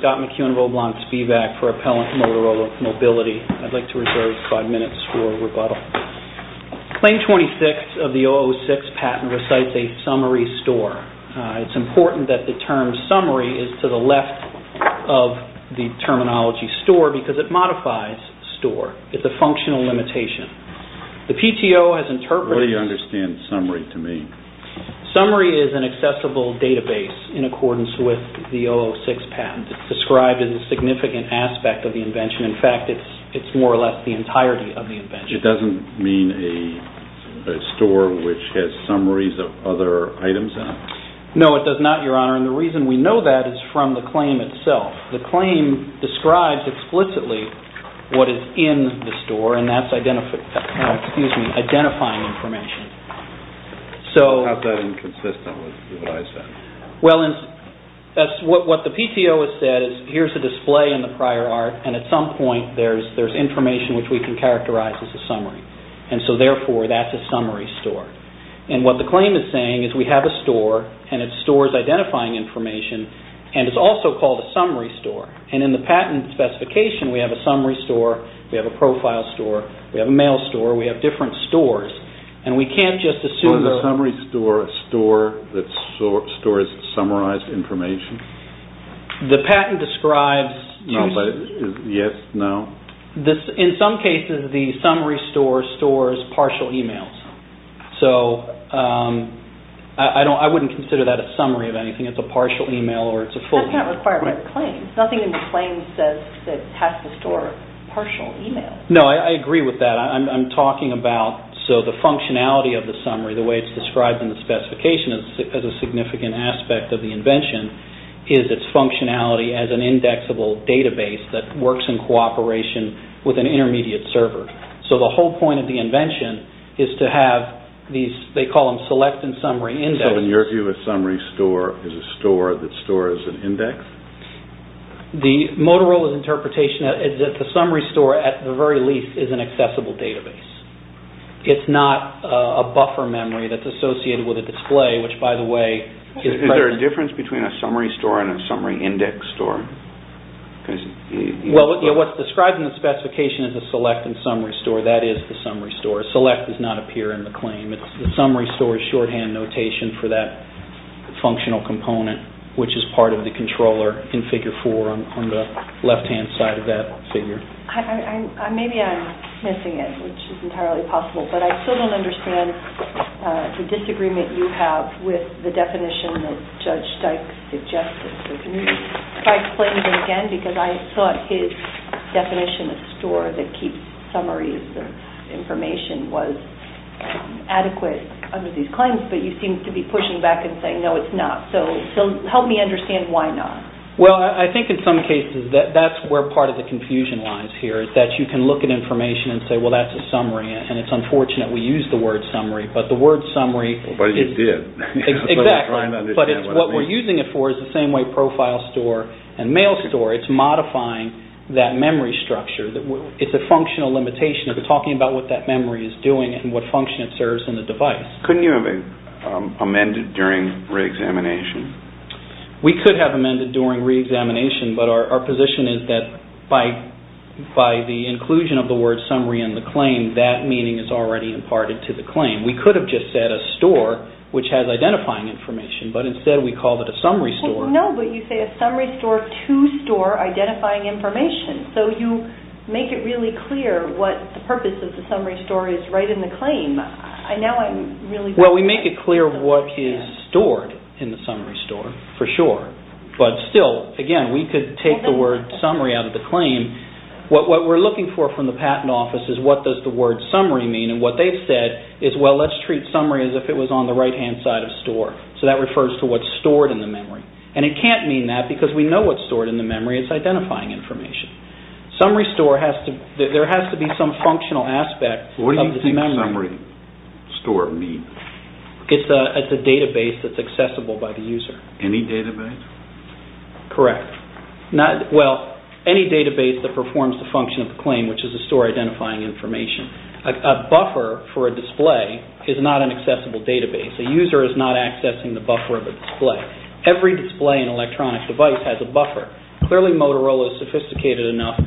Scott McEwen, Roblox Feedback for Appellant Motorola Mobility. I'd like to reserve 5 minutes for rebuttal. Claim 26 of the 006 patent recites a summary store. It's important that the term summary is to the left of the terminology store because it modifies store. It's a functional limitation. The PTO has interpreted... What do you understand summary to mean? Summary is an accessible database in accordance with the 006 patent. It's described as a significant aspect of the invention. In fact, it's more or less the entirety of the invention. It doesn't mean a store which has summaries of other items in it? No, it does not, Your Honor, and the reason we know that is from the claim itself. The claim describes explicitly what is in the store, and that's identifying information. How is that inconsistent with what I said? What the PTO has said is here's a display in the prior art, and at some point, there's information which we can characterize as a summary. Therefore, that's a summary store. What the claim is saying is we have a store, and it stores identifying information, and it's also called a summary store. In the patent specification, we have a summary store, we have a profile store, we have a mail store, we have different stores, and we can't just assume... The summary store stores summarized information? The patent describes... Yes, no. In some cases, the summary store stores partial emails. I wouldn't consider that a summary of anything. It's a partial email or it's a full... That's not required by the claim. Nothing in the claim says it has to store partial emails. No, I agree with that. I'm talking about the functionality of the summary, the way it's described in the specification as a significant aspect of the invention, is its functionality as an indexable database that works in cooperation with an intermediate server. The whole point of the invention is to have these... They call them select and summary index. In your view, a summary store is a store that stores an index? The Motorola's interpretation is that the summary store, at the very least, is an accessible database. It's not a buffer memory that's associated with a display, which, by the way... Is there a difference between a summary store and a summary index store? What's described in the specification is a select and summary store. That is the summary store. A select does not appear in the claim. It's the summary store's shorthand notation for that functional component, which is part of the controller in Figure 4 on the left-hand side of that figure. Maybe I'm missing it, which is entirely possible. But I still don't understand the disagreement you have with the definition that Judge Stike suggested. Stike claims it again, because I thought his definition of store that keeps summaries of information was adequate under these claims, but you seem to be pushing back and saying, no, it's not. So help me understand why not. Well, I think in some cases that's where part of the confusion lies here, is that you can look at information and say, well, that's a summary. And it's unfortunate we use the word summary, but the word summary... But you did. Exactly. But what we're using it for is the same way profile store and mail store. It's modifying that memory structure. It's a functional limitation of talking about what that memory is doing and what function it serves in the device. Couldn't you have amended during re-examination? We could have amended during re-examination, but our position is that by the inclusion of the word summary in the claim, that meaning is already imparted to the claim. We could have just said a store, which has identifying information, but instead we called it a summary store. No, but you say a summary store to store identifying information. So you make it really clear what the purpose of the summary store is right in the claim. I know I'm really... Well, we make it clear what is stored in the summary store, for sure. But still, again, we could take the word summary out of the claim. What we're looking for from the patent office is what does the word summary mean? What they've said is, well, let's treat summary as if it was on the right-hand side of store. So that refers to what's stored in the memory. And it can't mean that because we know what's stored in the memory. It's identifying information. Summary store has to... there has to be some functional aspect of the memory. What do you think summary store means? It's a database that's accessible by the user. Any database? Correct. Well, any database that performs the function of the claim, which is a store identifying information. A buffer for a display is not an accessible database. A user is not accessing the buffer of a display. Every display in an electronic device has a buffer. Clearly, Motorola is sophisticated enough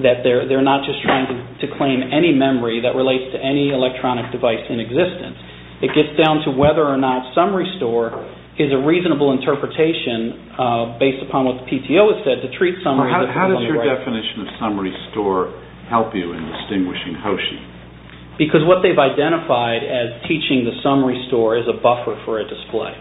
that they're not just trying to claim any memory that relates to any electronic device in existence. It gets down to whether or not summary store is a reasonable interpretation based upon what the PTO has said to treat summary as if it was on the right... help you in distinguishing Hoshi. Because what they've identified as teaching the summary store is a buffer for a display.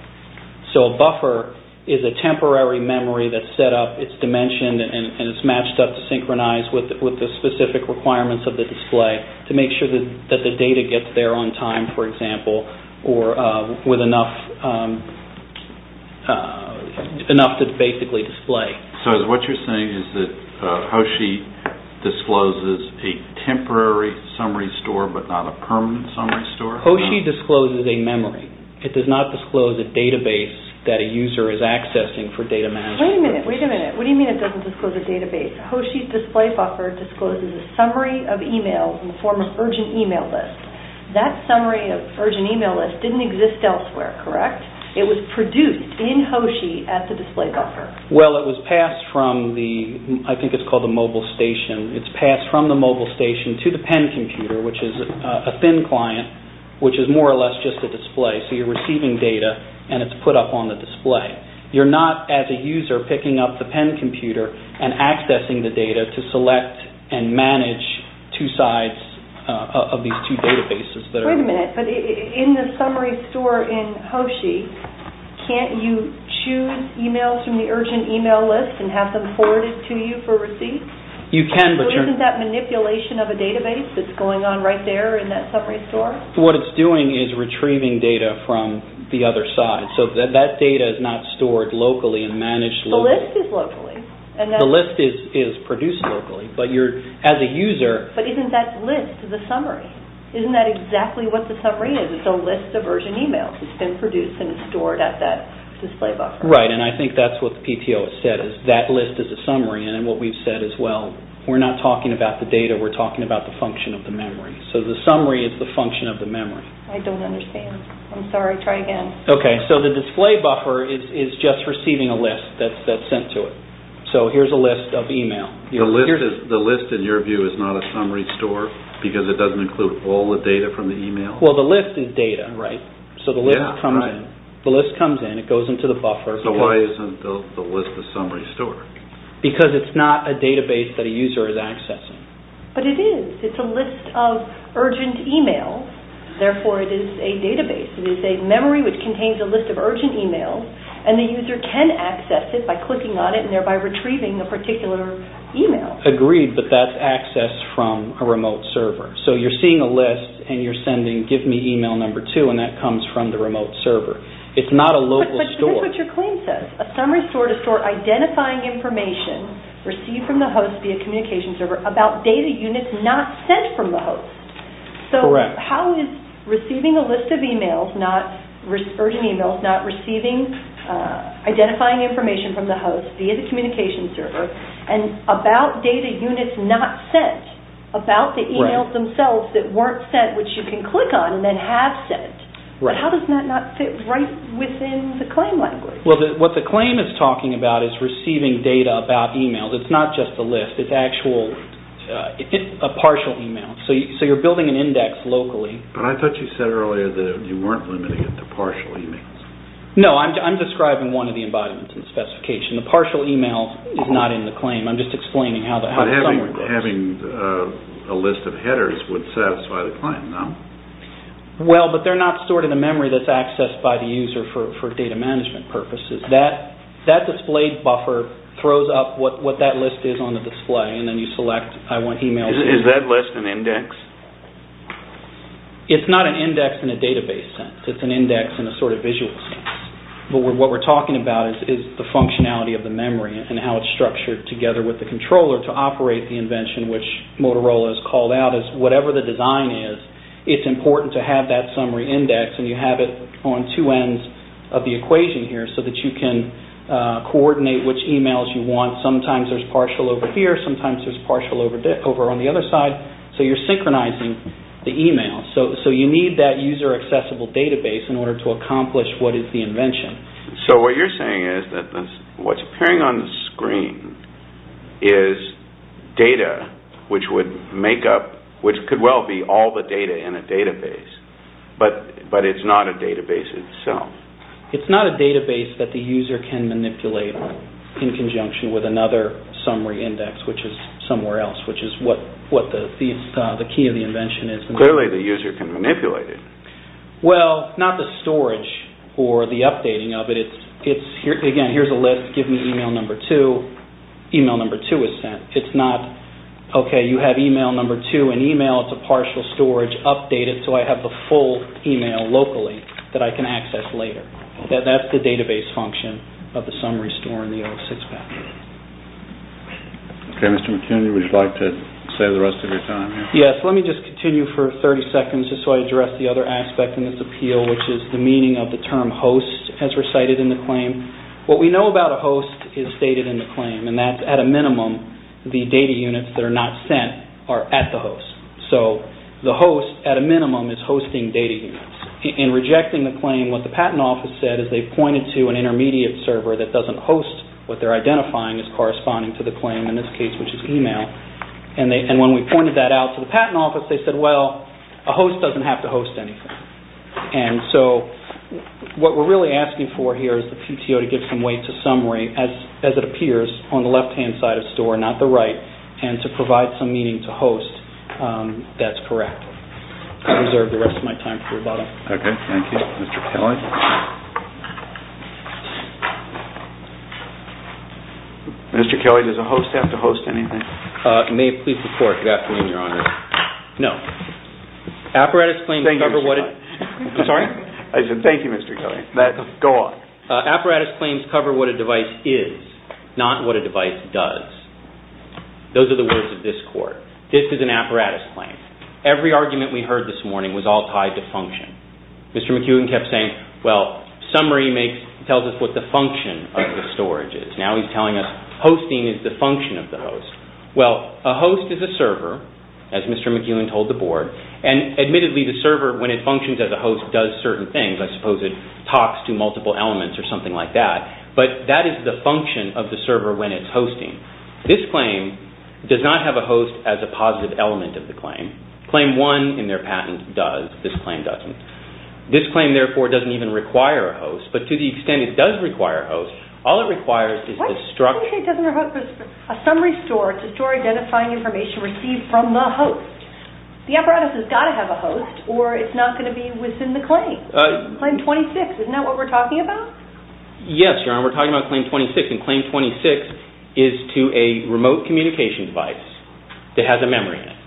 So a buffer is a temporary memory that's set up, it's dimensioned, and it's matched up to synchronize with the specific requirements of the display to make sure that the data gets there on time, for example, or with enough to basically display. So what you're saying is that Hoshi discloses a temporary summary store but not a permanent summary store? Hoshi discloses a memory. It does not disclose a database that a user is accessing for data management. Wait a minute, wait a minute. What do you mean it doesn't disclose a database? Hoshi's display buffer discloses a summary of emails in the form of urgent email list. That summary of urgent email list didn't exist elsewhere, correct? It was produced in Hoshi at the display buffer. Well, it was passed from the, I think it's called the mobile station, it's passed from the mobile station to the pen computer, which is a thin client, which is more or less just a display. So you're receiving data and it's put up on the display. You're not, as a user, picking up the pen computer and accessing the data to select and manage two sides of these two databases. Wait a minute, but in the summary store in Hoshi, can't you choose emails from the urgent email list and have them forwarded to you for receipt? You can, but you're... Isn't that manipulation of a database that's going on right there in that summary store? What it's doing is retrieving data from the other side. So that data is not stored locally and managed locally. The list is locally. The list is produced locally, but you're, as a user... But isn't that list the summary? Isn't that exactly what the summary is? It's a list of urgent emails that's been produced and stored at that display buffer. Right, and I think that's what the PTO has said, is that list is a summary. And what we've said as well, we're not talking about the data. We're talking about the function of the memory. So the summary is the function of the memory. I don't understand. I'm sorry. Try again. Okay, so the display buffer is just receiving a list that's sent to it. So here's a list of email. The list, in your view, is not a summary store because it doesn't include all the data from the email? Well, the list is data, right? So the list comes in. The list comes in. It goes into the buffer. So why isn't the list a summary store? Because it's not a database that a user is accessing. But it is. It's a list of urgent emails. Therefore, it is a database. It is a memory which contains a list of urgent emails, and the user can access it by clicking on it and thereby retrieving a particular email. Agreed, but that's accessed from a remote server. So you're seeing a list and you're sending, give me email number two, and that comes from the remote server. It's not a local store. But here's what your claim says. A summary store is a store identifying information received from the host via communication server about data units not sent from the host. Correct. So how is receiving a list of emails, urgent emails, not receiving identifying information from the host via the communication server and about data units not sent, about the emails themselves that weren't sent, which you can click on and then have sent. But how does that not fit right within the claim language? Well, what the claim is talking about is receiving data about emails. It's not just a list. It's actual, it's a partial email. So you're building an index locally. But I thought you said earlier that you weren't limiting it to partial emails. No, I'm describing one of the embodiments in the specification. The partial email is not in the claim. I'm just explaining how the summary goes. But having a list of headers would satisfy the claim, no? Well, but they're not stored in the memory that's accessed by the user for data management purposes. That displayed buffer throws up what that list is on the display, and then you select I want emails. Is that list an index? It's not an index in a database sense. It's an index in a sort of visual sense. But what we're talking about is the functionality of the memory and how it's structured together with the controller to operate the invention, which Motorola has called out as whatever the design is. It's important to have that summary index, and you have it on two ends of the equation here so that you can coordinate which emails you want. Sometimes there's partial over here. Sometimes there's partial over on the other side. So you're synchronizing the email. So you need that user accessible database in order to accomplish what is the invention. So what you're saying is that what's appearing on the screen is data which would make up, which could well be all the data in a database, but it's not a database itself. It's not a database that the user can manipulate in conjunction with another summary index, which is somewhere else, which is what the key of the invention is. But clearly the user can manipulate it. Well, not the storage or the updating of it. Again, here's a list. Give me email number two. Email number two is sent. It's not, okay, you have email number two in email. It's a partial storage. Update it so I have the full email locally that I can access later. That's the database function of the summary store in the old six-pack. Okay, Mr. McKinney, would you like to save the rest of your time here? Yes, let me just continue for 30 seconds just so I address the other aspect in this appeal, which is the meaning of the term host as recited in the claim. What we know about a host is stated in the claim, and that's at a minimum, the data units that are not sent are at the host. So the host, at a minimum, is hosting data units. In rejecting the claim, what the patent office said is they pointed to an intermediate server that doesn't host what they're identifying as corresponding to the claim, in this case, which is email. And when we pointed that out to the patent office, they said, well, a host doesn't have to host anything. And so what we're really asking for here is the PTO to give some weight to summary, as it appears on the left-hand side of store, not the right, and to provide some meaning to host that's correct. I reserve the rest of my time for rebuttal. Okay, thank you. Mr. Kelly? Mr. Kelly? Mr. Kelly, does a host have to host anything? May it please the Court, good afternoon, Your Honor. Thank you, Mr. Kelly. I'm sorry? I said thank you, Mr. Kelly. Go on. Apparatus claims cover what a device is, not what a device does. Those are the words of this Court. This is an apparatus claim. Every argument we heard this morning was all tied to function. Mr. McEwen kept saying, well, summary tells us what the function of the storage is. Now he's telling us hosting is the function of the host. Well, a host is a server, as Mr. McEwen told the Board, and admittedly the server, when it functions as a host, does certain things. I suppose it talks to multiple elements or something like that. But that is the function of the server when it's hosting. This claim does not have a host as a positive element of the claim. Claim 1 in their patent does. This claim doesn't. This claim, therefore, doesn't even require a host. But to the extent it does require a host, all it requires is the structure. What do you mean it doesn't require a host? A summary store, it's a store identifying information received from the host. The apparatus has got to have a host or it's not going to be within the claim. Claim 26, isn't that what we're talking about? Yes, Your Honor, we're talking about Claim 26. And Claim 26 is to a remote communication device that has a memory in it.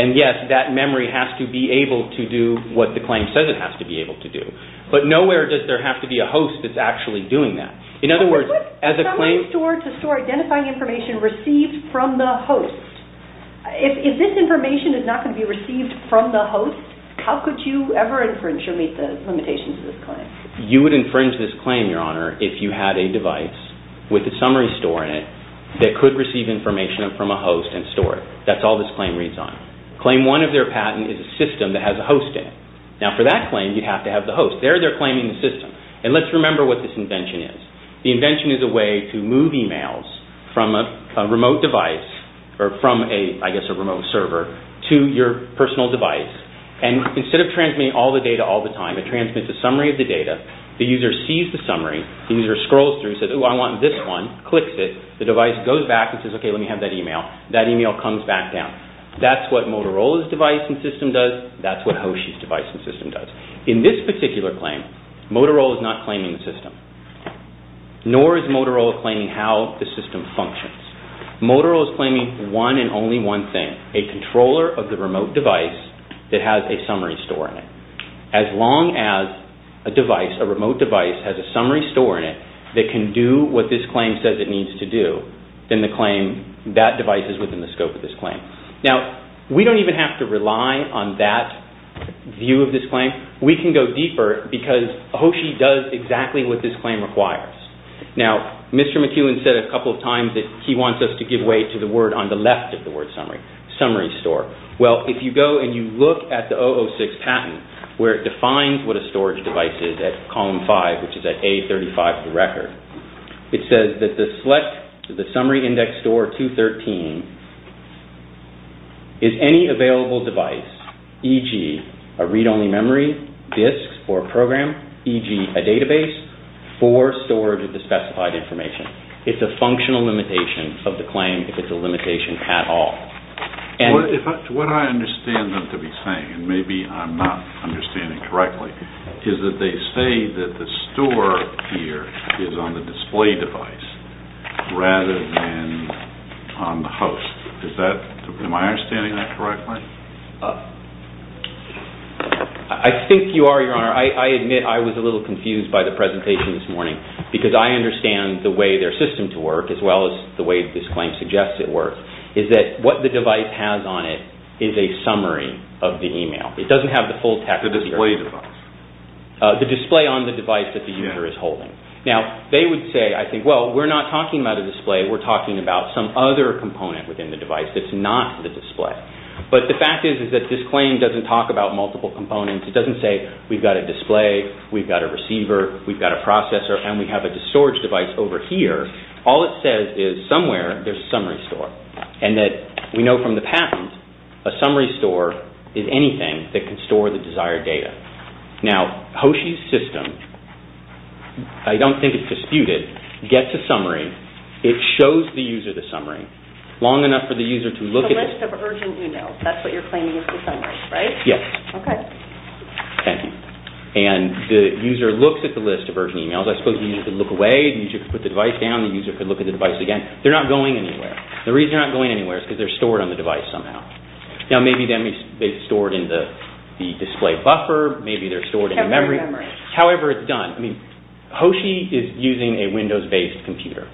And, yes, that memory has to be able to do what the claim says it has to be able to do. But nowhere does there have to be a host that's actually doing that. In other words, as a claim... But what is a summary store? It's a store identifying information received from the host. If this information is not going to be received from the host, how could you ever infringe or meet the limitations of this claim? You would infringe this claim, Your Honor, if you had a device with a summary store in it that could receive information from a host and store it. That's all this claim reads on. Claim 1 of their patent is a system that has a host in it. Now, for that claim, you have to have the host. There, they're claiming the system. And let's remember what this invention is. The invention is a way to move e-mails from a remote device or from, I guess, a remote server to your personal device. And instead of transmitting all the data all the time, it transmits a summary of the data. The user sees the summary. The user scrolls through, says, ooh, I want this one, clicks it. The device goes back and says, okay, let me have that e-mail. That e-mail comes back down. That's what Motorola's device and system does. That's what Hoshi's device and system does. In this particular claim, Motorola is not claiming the system, nor is Motorola claiming how the system functions. Motorola is claiming one and only one thing, a controller of the remote device that has a summary store in it. As long as a device, a remote device, has a summary store in it that can do what this claim says it needs to do, then the claim, that device is within the scope of this claim. Now, we don't even have to rely on that view of this claim. We can go deeper because Hoshi does exactly what this claim requires. Now, Mr. McEwen said a couple of times that he wants us to give way to the word on the left of the word summary, summary store. Well, if you go and you look at the 006 patent, where it defines what a storage device is at column 5, which is at A35 for the record, it says that the select to the summary index store 213 is any available device, e.g. a read-only memory, disk, or program, e.g. a database, for storage of the specified information. It's a functional limitation of the claim if it's a limitation at all. What I understand them to be saying, and maybe I'm not understanding correctly, is that they say that the store here is on the display device rather than on the host. Am I understanding that correctly? I think you are, Your Honor. I admit I was a little confused by the presentation this morning because I understand the way their system to work as well as the way this claim suggests it works is that what the device has on it is a summary of the email. It doesn't have the full text of the email. The display device. The display on the device that the user is holding. Now, they would say, I think, well, we're not talking about a display. We're talking about some other component within the device that's not the display. But the fact is that this claim doesn't talk about multiple components. It doesn't say we've got a display, we've got a receiver, we've got a processor, and we have a storage device over here. All it says is somewhere there's a summary store. And that we know from the patent, a summary store is anything that can store the desired data. Now, Hoshi's system, I don't think it's disputed, gets a summary. It shows the user the summary long enough for the user to look at it. The list of urgent emails. That's what you're claiming is the summary, right? Yes. Okay. Thank you. And the user looks at the list of urgent emails. I suppose the user could look away. The user could put the device down. The user could look at the device again. They're not going anywhere. The reason they're not going anywhere is because they're stored on the device somehow. Now, maybe they're stored in the display buffer. Maybe they're stored in the memory. Memory. However it's done. I mean, Hoshi is using a Windows-based computer.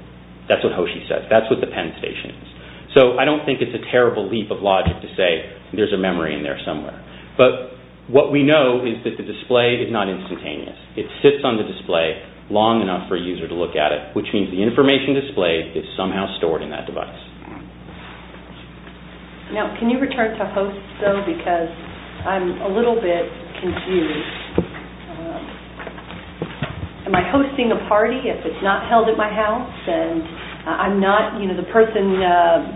That's what Hoshi says. That's what the Penn Station is. So I don't think it's a terrible leap of logic to say there's a memory in there somewhere. But what we know is that the display is not instantaneous. It sits on the display long enough for a user to look at it, which means the information displayed is somehow stored in that device. Now, can you return to host, though? Because I'm a little bit confused. Am I hosting a party if it's not held at my house? And I'm not, you know, the person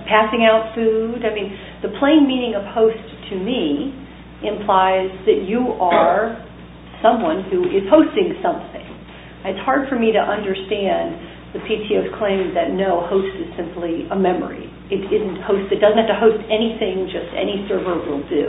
passing out food? I mean, the plain meaning of host to me implies that you are someone who is hosting something. It's hard for me to understand the PTO's claim that no, host is simply a memory. It isn't host. It doesn't have to host anything. Just any server will do.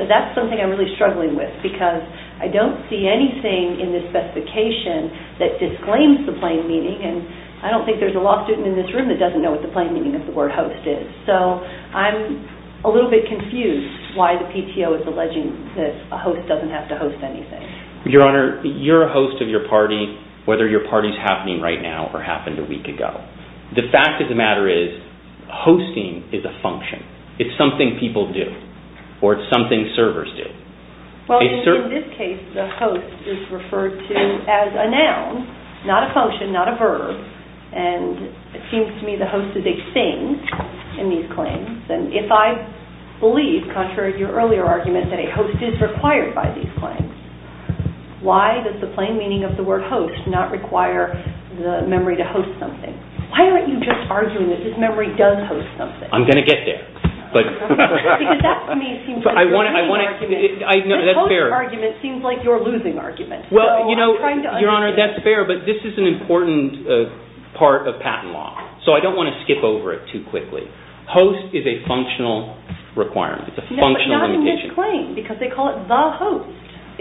So that's something I'm really struggling with because I don't see anything in this specification that disclaims the plain meaning. And I don't think there's a law student in this room that doesn't know what the plain meaning of the word host is. So I'm a little bit confused why the PTO is alleging that a host doesn't have to host anything. Your Honor, you're a host of your party, whether your party's happening right now or happened a week ago. The fact of the matter is hosting is a function. It's something people do or it's something servers do. Well, in this case, the host is referred to as a noun, not a function, not a verb. And it seems to me the host is a thing in these claims. And if I believe, contrary to your earlier argument, that a host is required by these claims, why does the plain meaning of the word host not require the memory to host something? Why aren't you just arguing that this memory does host something? I'm going to get there. Because that, to me, seems like a winning argument. No, that's fair. The host argument seems like your losing argument. Your Honor, that's fair, but this is an important part of patent law. So I don't want to skip over it too quickly. Host is a functional requirement. It's a functional limitation. But not in this claim because they call it the host.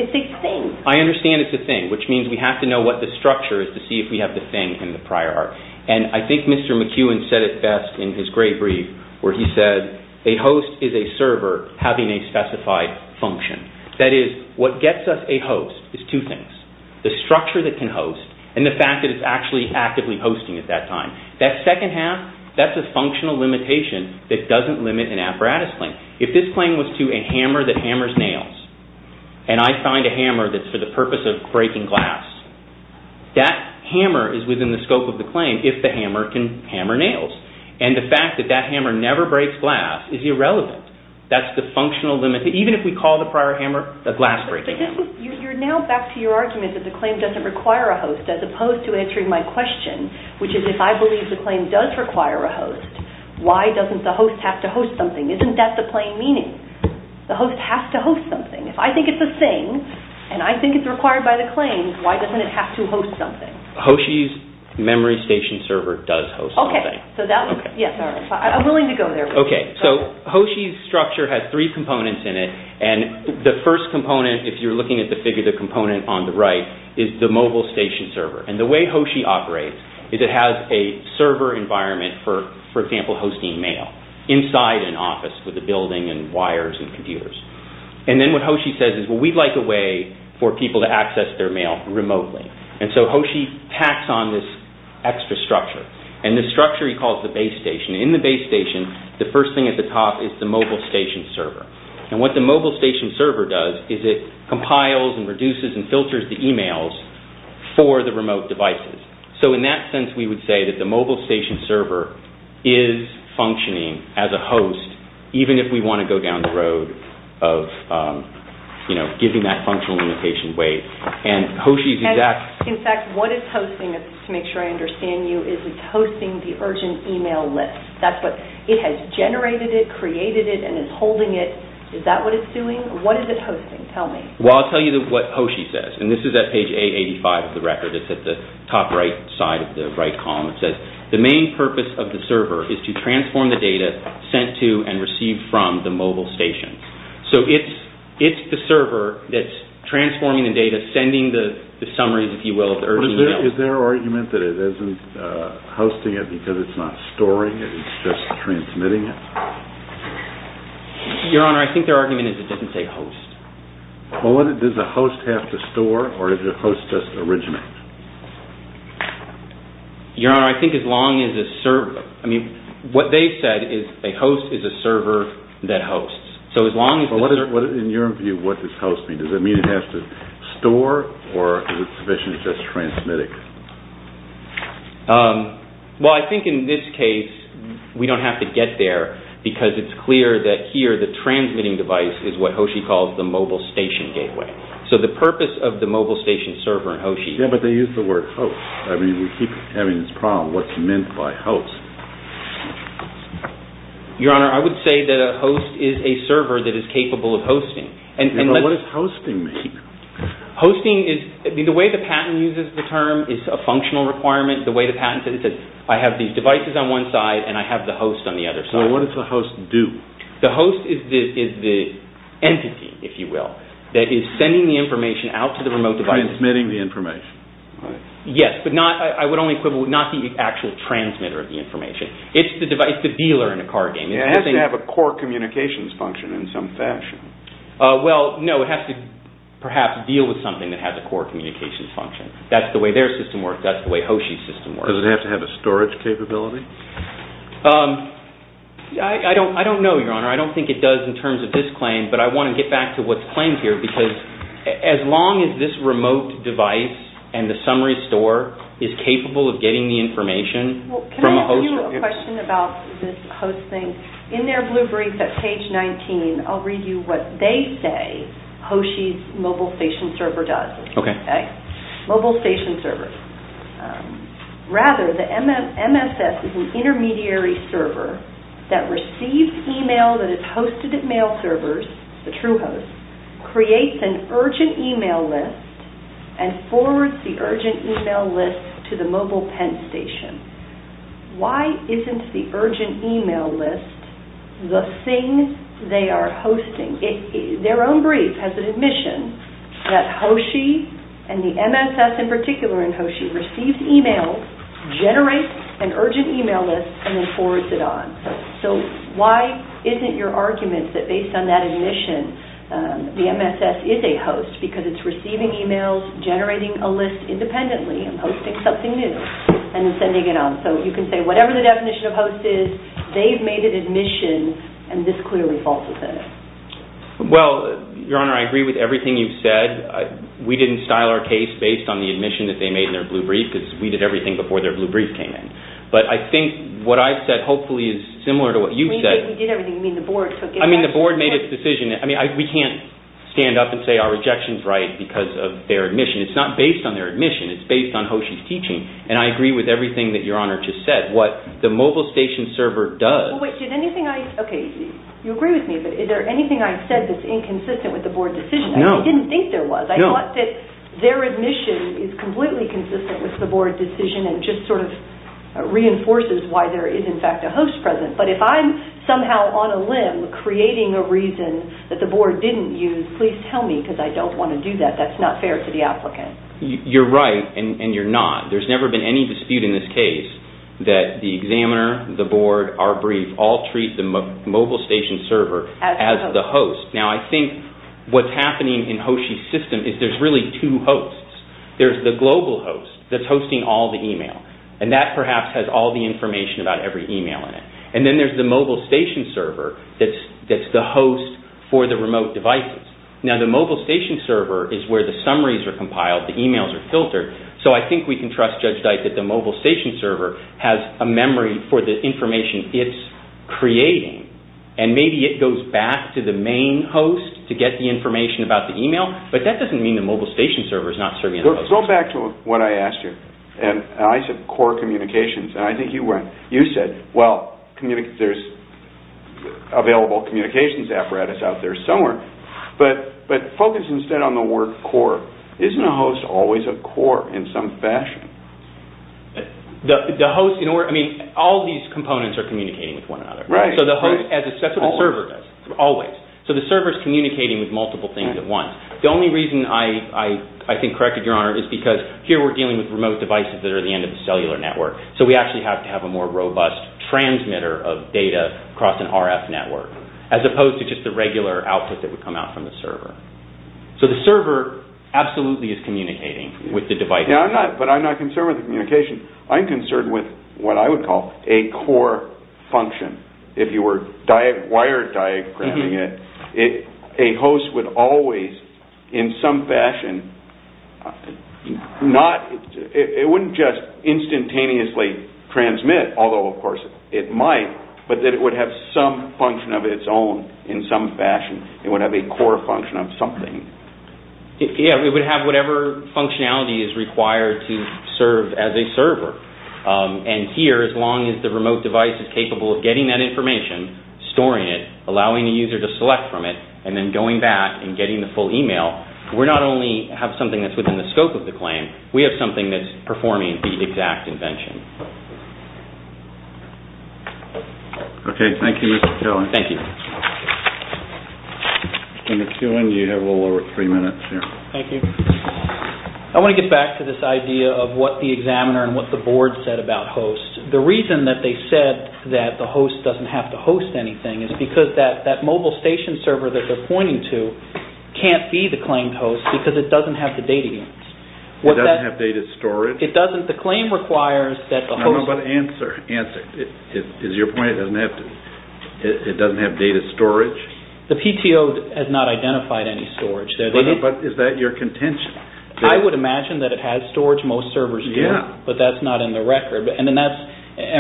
It's a thing. I understand it's a thing, which means we have to know what the structure is to see if we have the thing in the prior art. And I think Mr. McEwen said it best in his great brief where he said, a host is a server having a specified function. That is, what gets us a host is two things. The structure that can host and the fact that it's actually actively hosting at that time. That second half, that's a functional limitation that doesn't limit an apparatus claim. If this claim was to a hammer that hammers nails, and I find a hammer that's for the purpose of breaking glass, that hammer is within the scope of the claim if the hammer can hammer nails. And the fact that that hammer never breaks glass is irrelevant. That's the functional limit. Even if we call the prior hammer a glass breaker. You're now back to your argument that the claim doesn't require a host as opposed to answering my question, which is if I believe the claim does require a host, why doesn't the host have to host something? Isn't that the plain meaning? The host has to host something. If I think it's a thing, and I think it's required by the claim, why doesn't it have to host something? Hoshi's memory station server does host something. Okay. I'm willing to go there with you. Hoshi's structure has three components in it. The first component, if you're looking at the figure of the component on the right, is the mobile station server. And the way Hoshi operates is it has a server environment for, for example, hosting mail inside an office with a building and wires and computers. And then what Hoshi says is, well, we'd like a way for people to access their mail remotely. And so Hoshi packs on this extra structure. And this structure he calls the base station. In the base station, the first thing at the top is the mobile station server. And what the mobile station server does is it compiles and reduces and filters the emails for the remote devices. So in that sense, we would say that the mobile station server is functioning as a host, even if we want to go down the road of, you know, giving that functional limitation weight. And Hoshi's exact – In fact, what it's hosting, to make sure I understand you, is it's hosting the urgent email list. That's what – it has generated it, created it, and is holding it. Is that what it's doing? What is it hosting? Tell me. Well, I'll tell you what Hoshi says. And this is at page 885 of the record. It's at the top right side of the right column. It says, the main purpose of the server is to transform the data sent to and received from the mobile station. So it's the server that's transforming the data, sending the summaries, if you will, of the urgent email. Is there argument that it isn't hosting it because it's not storing it? It's just transmitting it? Your Honor, I think their argument is it doesn't say host. Well, does a host have to store or does a host just originate? Your Honor, I think as long as a server – I mean, what they've said is a host is a server that hosts. So as long as – In your view, what does host mean? Does it mean it has to store or is it sufficient to just transmit it? Well, I think in this case we don't have to get there because it's clear that here the transmitting device is what Hoshi calls the mobile station gateway. So the purpose of the mobile station server in Hoshi – Yeah, but they use the word host. I mean, we keep having this problem, what's meant by host? Your Honor, I would say that a host is a server that is capable of hosting. Yeah, but what does hosting mean? Hosting is – I mean, the way the patent uses the term is a functional requirement. The way the patent says it is I have these devices on one side and I have the host on the other side. So what does the host do? The host is the entity, if you will, that is sending the information out to the remote devices. Transmitting the information, right? Yes, but not – I would only equivalent – not the actual transmitter of the information. It's the device – it's the dealer in a card game. It has to have a core communications function in some fashion. Well, no, it has to perhaps deal with something that has a core communications function. That's the way their system works. That's the way Hoshi's system works. Does it have to have a storage capability? I don't know, Your Honor. I don't think it does in terms of this claim, but I want to get back to what's claimed here because as long as this remote device and the summary store is capable of getting the information from a host – Can I ask you a question about this hosting? In their blue brief at page 19, I'll read you what they say Hoshi's mobile station server does. Okay. Mobile station server. Rather, the MSS is an intermediary server that receives email that is hosted at mail servers, the true host, creates an urgent email list, and forwards the urgent email list to the mobile pen station. Why isn't the urgent email list the thing they are hosting? Their own brief has an admission that Hoshi and the MSS in particular in Hoshi receives email, generates an urgent email list, and then forwards it on. So why isn't your argument that based on that admission, the MSS is a host because it's receiving emails, generating a list independently, and hosting something new, and then sending it on? So you can say whatever the definition of host is, they've made an admission, and this clearly falsifies it. Well, Your Honor, I agree with everything you've said. We didn't style our case based on the admission that they made in their blue brief because we did everything before their blue brief came in. But I think what I've said hopefully is similar to what you've said. We did everything. You mean the board took it? I mean the board made its decision. I mean we can't stand up and say our rejection is right because of their admission. It's not based on their admission. It's based on Hoshi's teaching. And I agree with everything that Your Honor just said. What the mobile station server does... Well, wait, did anything I... OK, you agree with me, but is there anything I've said that's inconsistent with the board decision? No. I didn't think there was. I thought that their admission is completely consistent with the board decision and just sort of reinforces why there is in fact a host present. But if I'm somehow on a limb creating a reason that the board didn't use, please tell me because I don't want to do that. That's not fair to the applicant. You're right and you're not. There's never been any dispute in this case that the examiner, the board, our brief all treat the mobile station server as the host. Now I think what's happening in Hoshi's system is there's really two hosts. There's the global host that's hosting all the email. And that perhaps has all the information about every email in it. And then there's the mobile station server that's the host for the remote devices. Now the mobile station server is where the summaries are compiled, the emails are filtered. So I think we can trust Judge Dyke that the mobile station server has a memory for the information it's creating. And maybe it goes back to the main host to get the information about the email. But that doesn't mean the mobile station server is not serving... Go back to what I asked you. And I said core communications. And I think you said, well, there's available communications apparatus out there somewhere. But focus instead on the word core. Isn't a host always a core in some fashion? The host, I mean, all these components are communicating with one another. Right. Always. So the server is communicating with multiple things at once. The only reason I think corrected, Your Honor, is because here we're dealing with remote devices that are the end of the cellular network. So we actually have to have a more robust transmitter of data across an RF network, as opposed to just the regular output that would come out from the server. So the server absolutely is communicating with the device. Yeah, but I'm not concerned with the communication. I'm concerned with what I would call a core function. If you were wire diagramming it, a host would always, in some fashion, it wouldn't just instantaneously transmit, although, of course, it might, but that it would have some function of its own in some fashion. It would have a core function of something. Yeah, it would have whatever functionality is required to serve as a server. And here, as long as the remote device is capable of getting that information, storing it, allowing the user to select from it, and then going back and getting the full email, we not only have something that's within the scope of the claim, we have something that's performing the exact invention. Okay, thank you, Mr. Kelly. Thank you. In the Q&A, you have a little over three minutes here. Thank you. I want to get back to this idea of what the examiner and what the board said about hosts. The reason that they said that the host doesn't have to host anything is because that mobile station server that they're pointing to can't be the claimed host because it doesn't have the data units. It doesn't have data storage? It doesn't. The claim requires that the host... No, no, but answer. Is your point it doesn't have data storage? The PTO has not identified any storage. But is that your contention? I would imagine that it has storage. Most servers do, but that's not in the record. And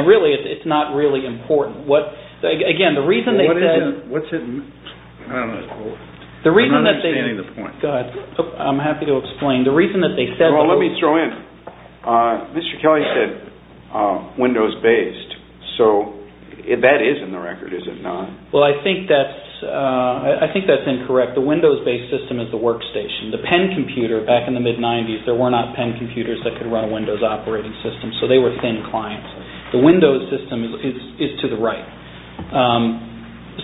really, it's not really important. Again, the reason they said... I'm not understanding the point. Go ahead. I'm happy to explain. The reason that they said... Well, let me throw in, Mr. Kelly said Windows-based. So that is in the record, is it not? Well, I think that's incorrect. The Windows-based system is the workstation. The pen computer, back in the mid-'90s, there were not pen computers that could run a Windows operating system, so they were thin clients. The Windows system is to the right.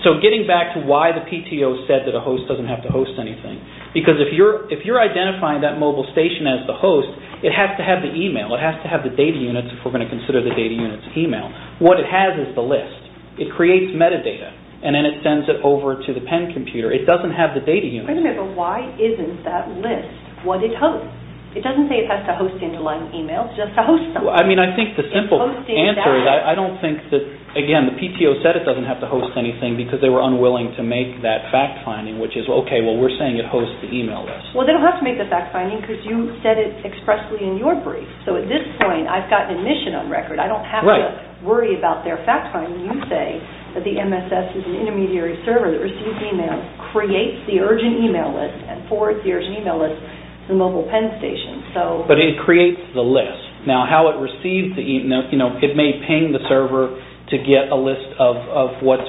So getting back to why the PTO said that a host doesn't have to host anything, because if you're identifying that mobile station as the host, it has to have the email, it has to have the data units if we're going to consider the data units email. What it has is the list. It creates metadata, and then it sends it over to the pen computer. It doesn't have the data units. Wait a minute, but why isn't that list what it hosts? It doesn't say it has to host interline emails just to host them. I think the simple answer is I don't think that, again, the PTO said it doesn't have to host anything because they were unwilling to make that fact-finding, which is, okay, well, we're saying it hosts the email list. Well, they don't have to make the fact-finding because you said it expressly in your brief. So at this point, I've got an admission on record. I don't have to worry about their fact-finding. You say that the MSS is an intermediary server that receives emails, creates the urgent email list, and forwards the urgent email list to the mobile pen station. But it creates the list. Now, how it receives the email, you know, it may ping the server to get a list of what's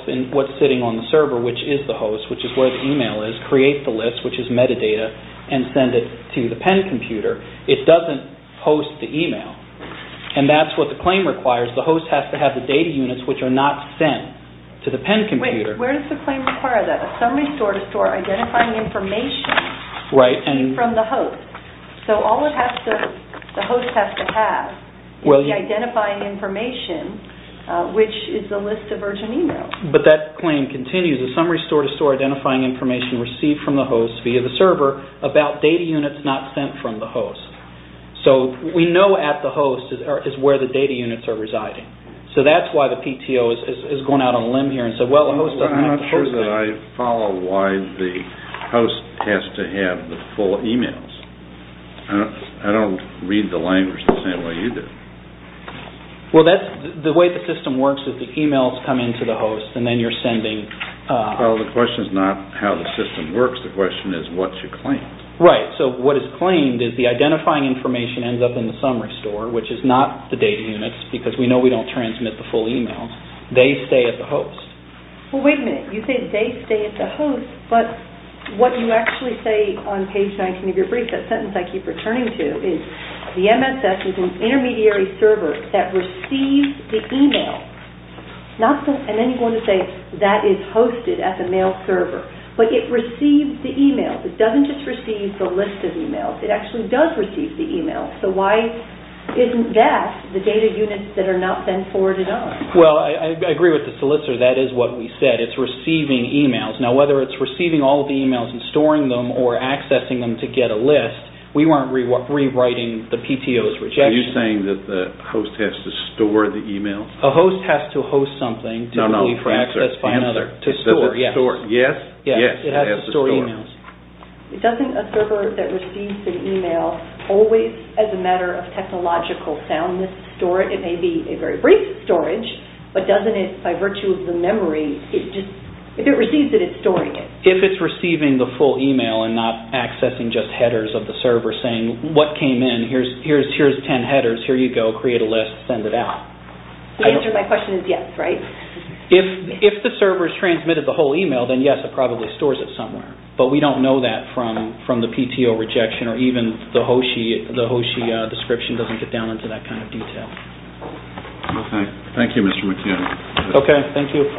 sitting on the server, which is the host, which is where the email is, create the list, which is metadata, and send it to the pen computer. It doesn't host the email, and that's what the claim requires. The host has to have the data units, which are not sent to the pen computer. Wait, where does the claim require that? A summary store to store identifying information from the host. So all the host has to have is the identifying information, which is the list of urgent emails. But that claim continues. A summary store to store identifying information received from the host via the server about data units not sent from the host. So we know at the host is where the data units are residing. So that's why the PTO is going out on a limb here and said, well, the host doesn't have to host them. I follow why the host has to have the full emails. I don't read the language the same way you do. Well, the way the system works is the emails come into the host, and then you're sending. Well, the question is not how the system works. The question is what's your claim. Right. So what is claimed is the identifying information ends up in the summary store, which is not the data units because we know we don't transmit the full emails. They stay at the host. Well, wait a minute. You say they stay at the host, but what you actually say on page 19 of your brief, that sentence I keep returning to, is the MSS is an intermediary server that receives the email. And then you're going to say that is hosted at the mail server. But it receives the email. It doesn't just receive the list of emails. It actually does receive the email. So why isn't that the data units that are not sent forward at all? Well, I agree with the solicitor. That is what we said. It's receiving emails. Now, whether it's receiving all of the emails and storing them or accessing them to get a list, we weren't rewriting the PTO's rejection. Are you saying that the host has to store the emails? A host has to host something to be accessed by another. To store, yes. Yes? Yes. It has to store emails. Doesn't a server that receives an email always, as a matter of technological soundness, store it? It may be a very brief storage, but doesn't it, by virtue of the memory, if it receives it, it's storing it. If it's receiving the full email and not accessing just headers of the server saying what came in, here's 10 headers, here you go, create a list, send it out. The answer to my question is yes, right? If the server has transmitted the whole email, then yes, it probably stores it somewhere. But we don't know that from the PTO rejection or even the HOSHI description doesn't get down into that kind of detail. Okay, thank you, Mr. McKenna. Okay, thank you.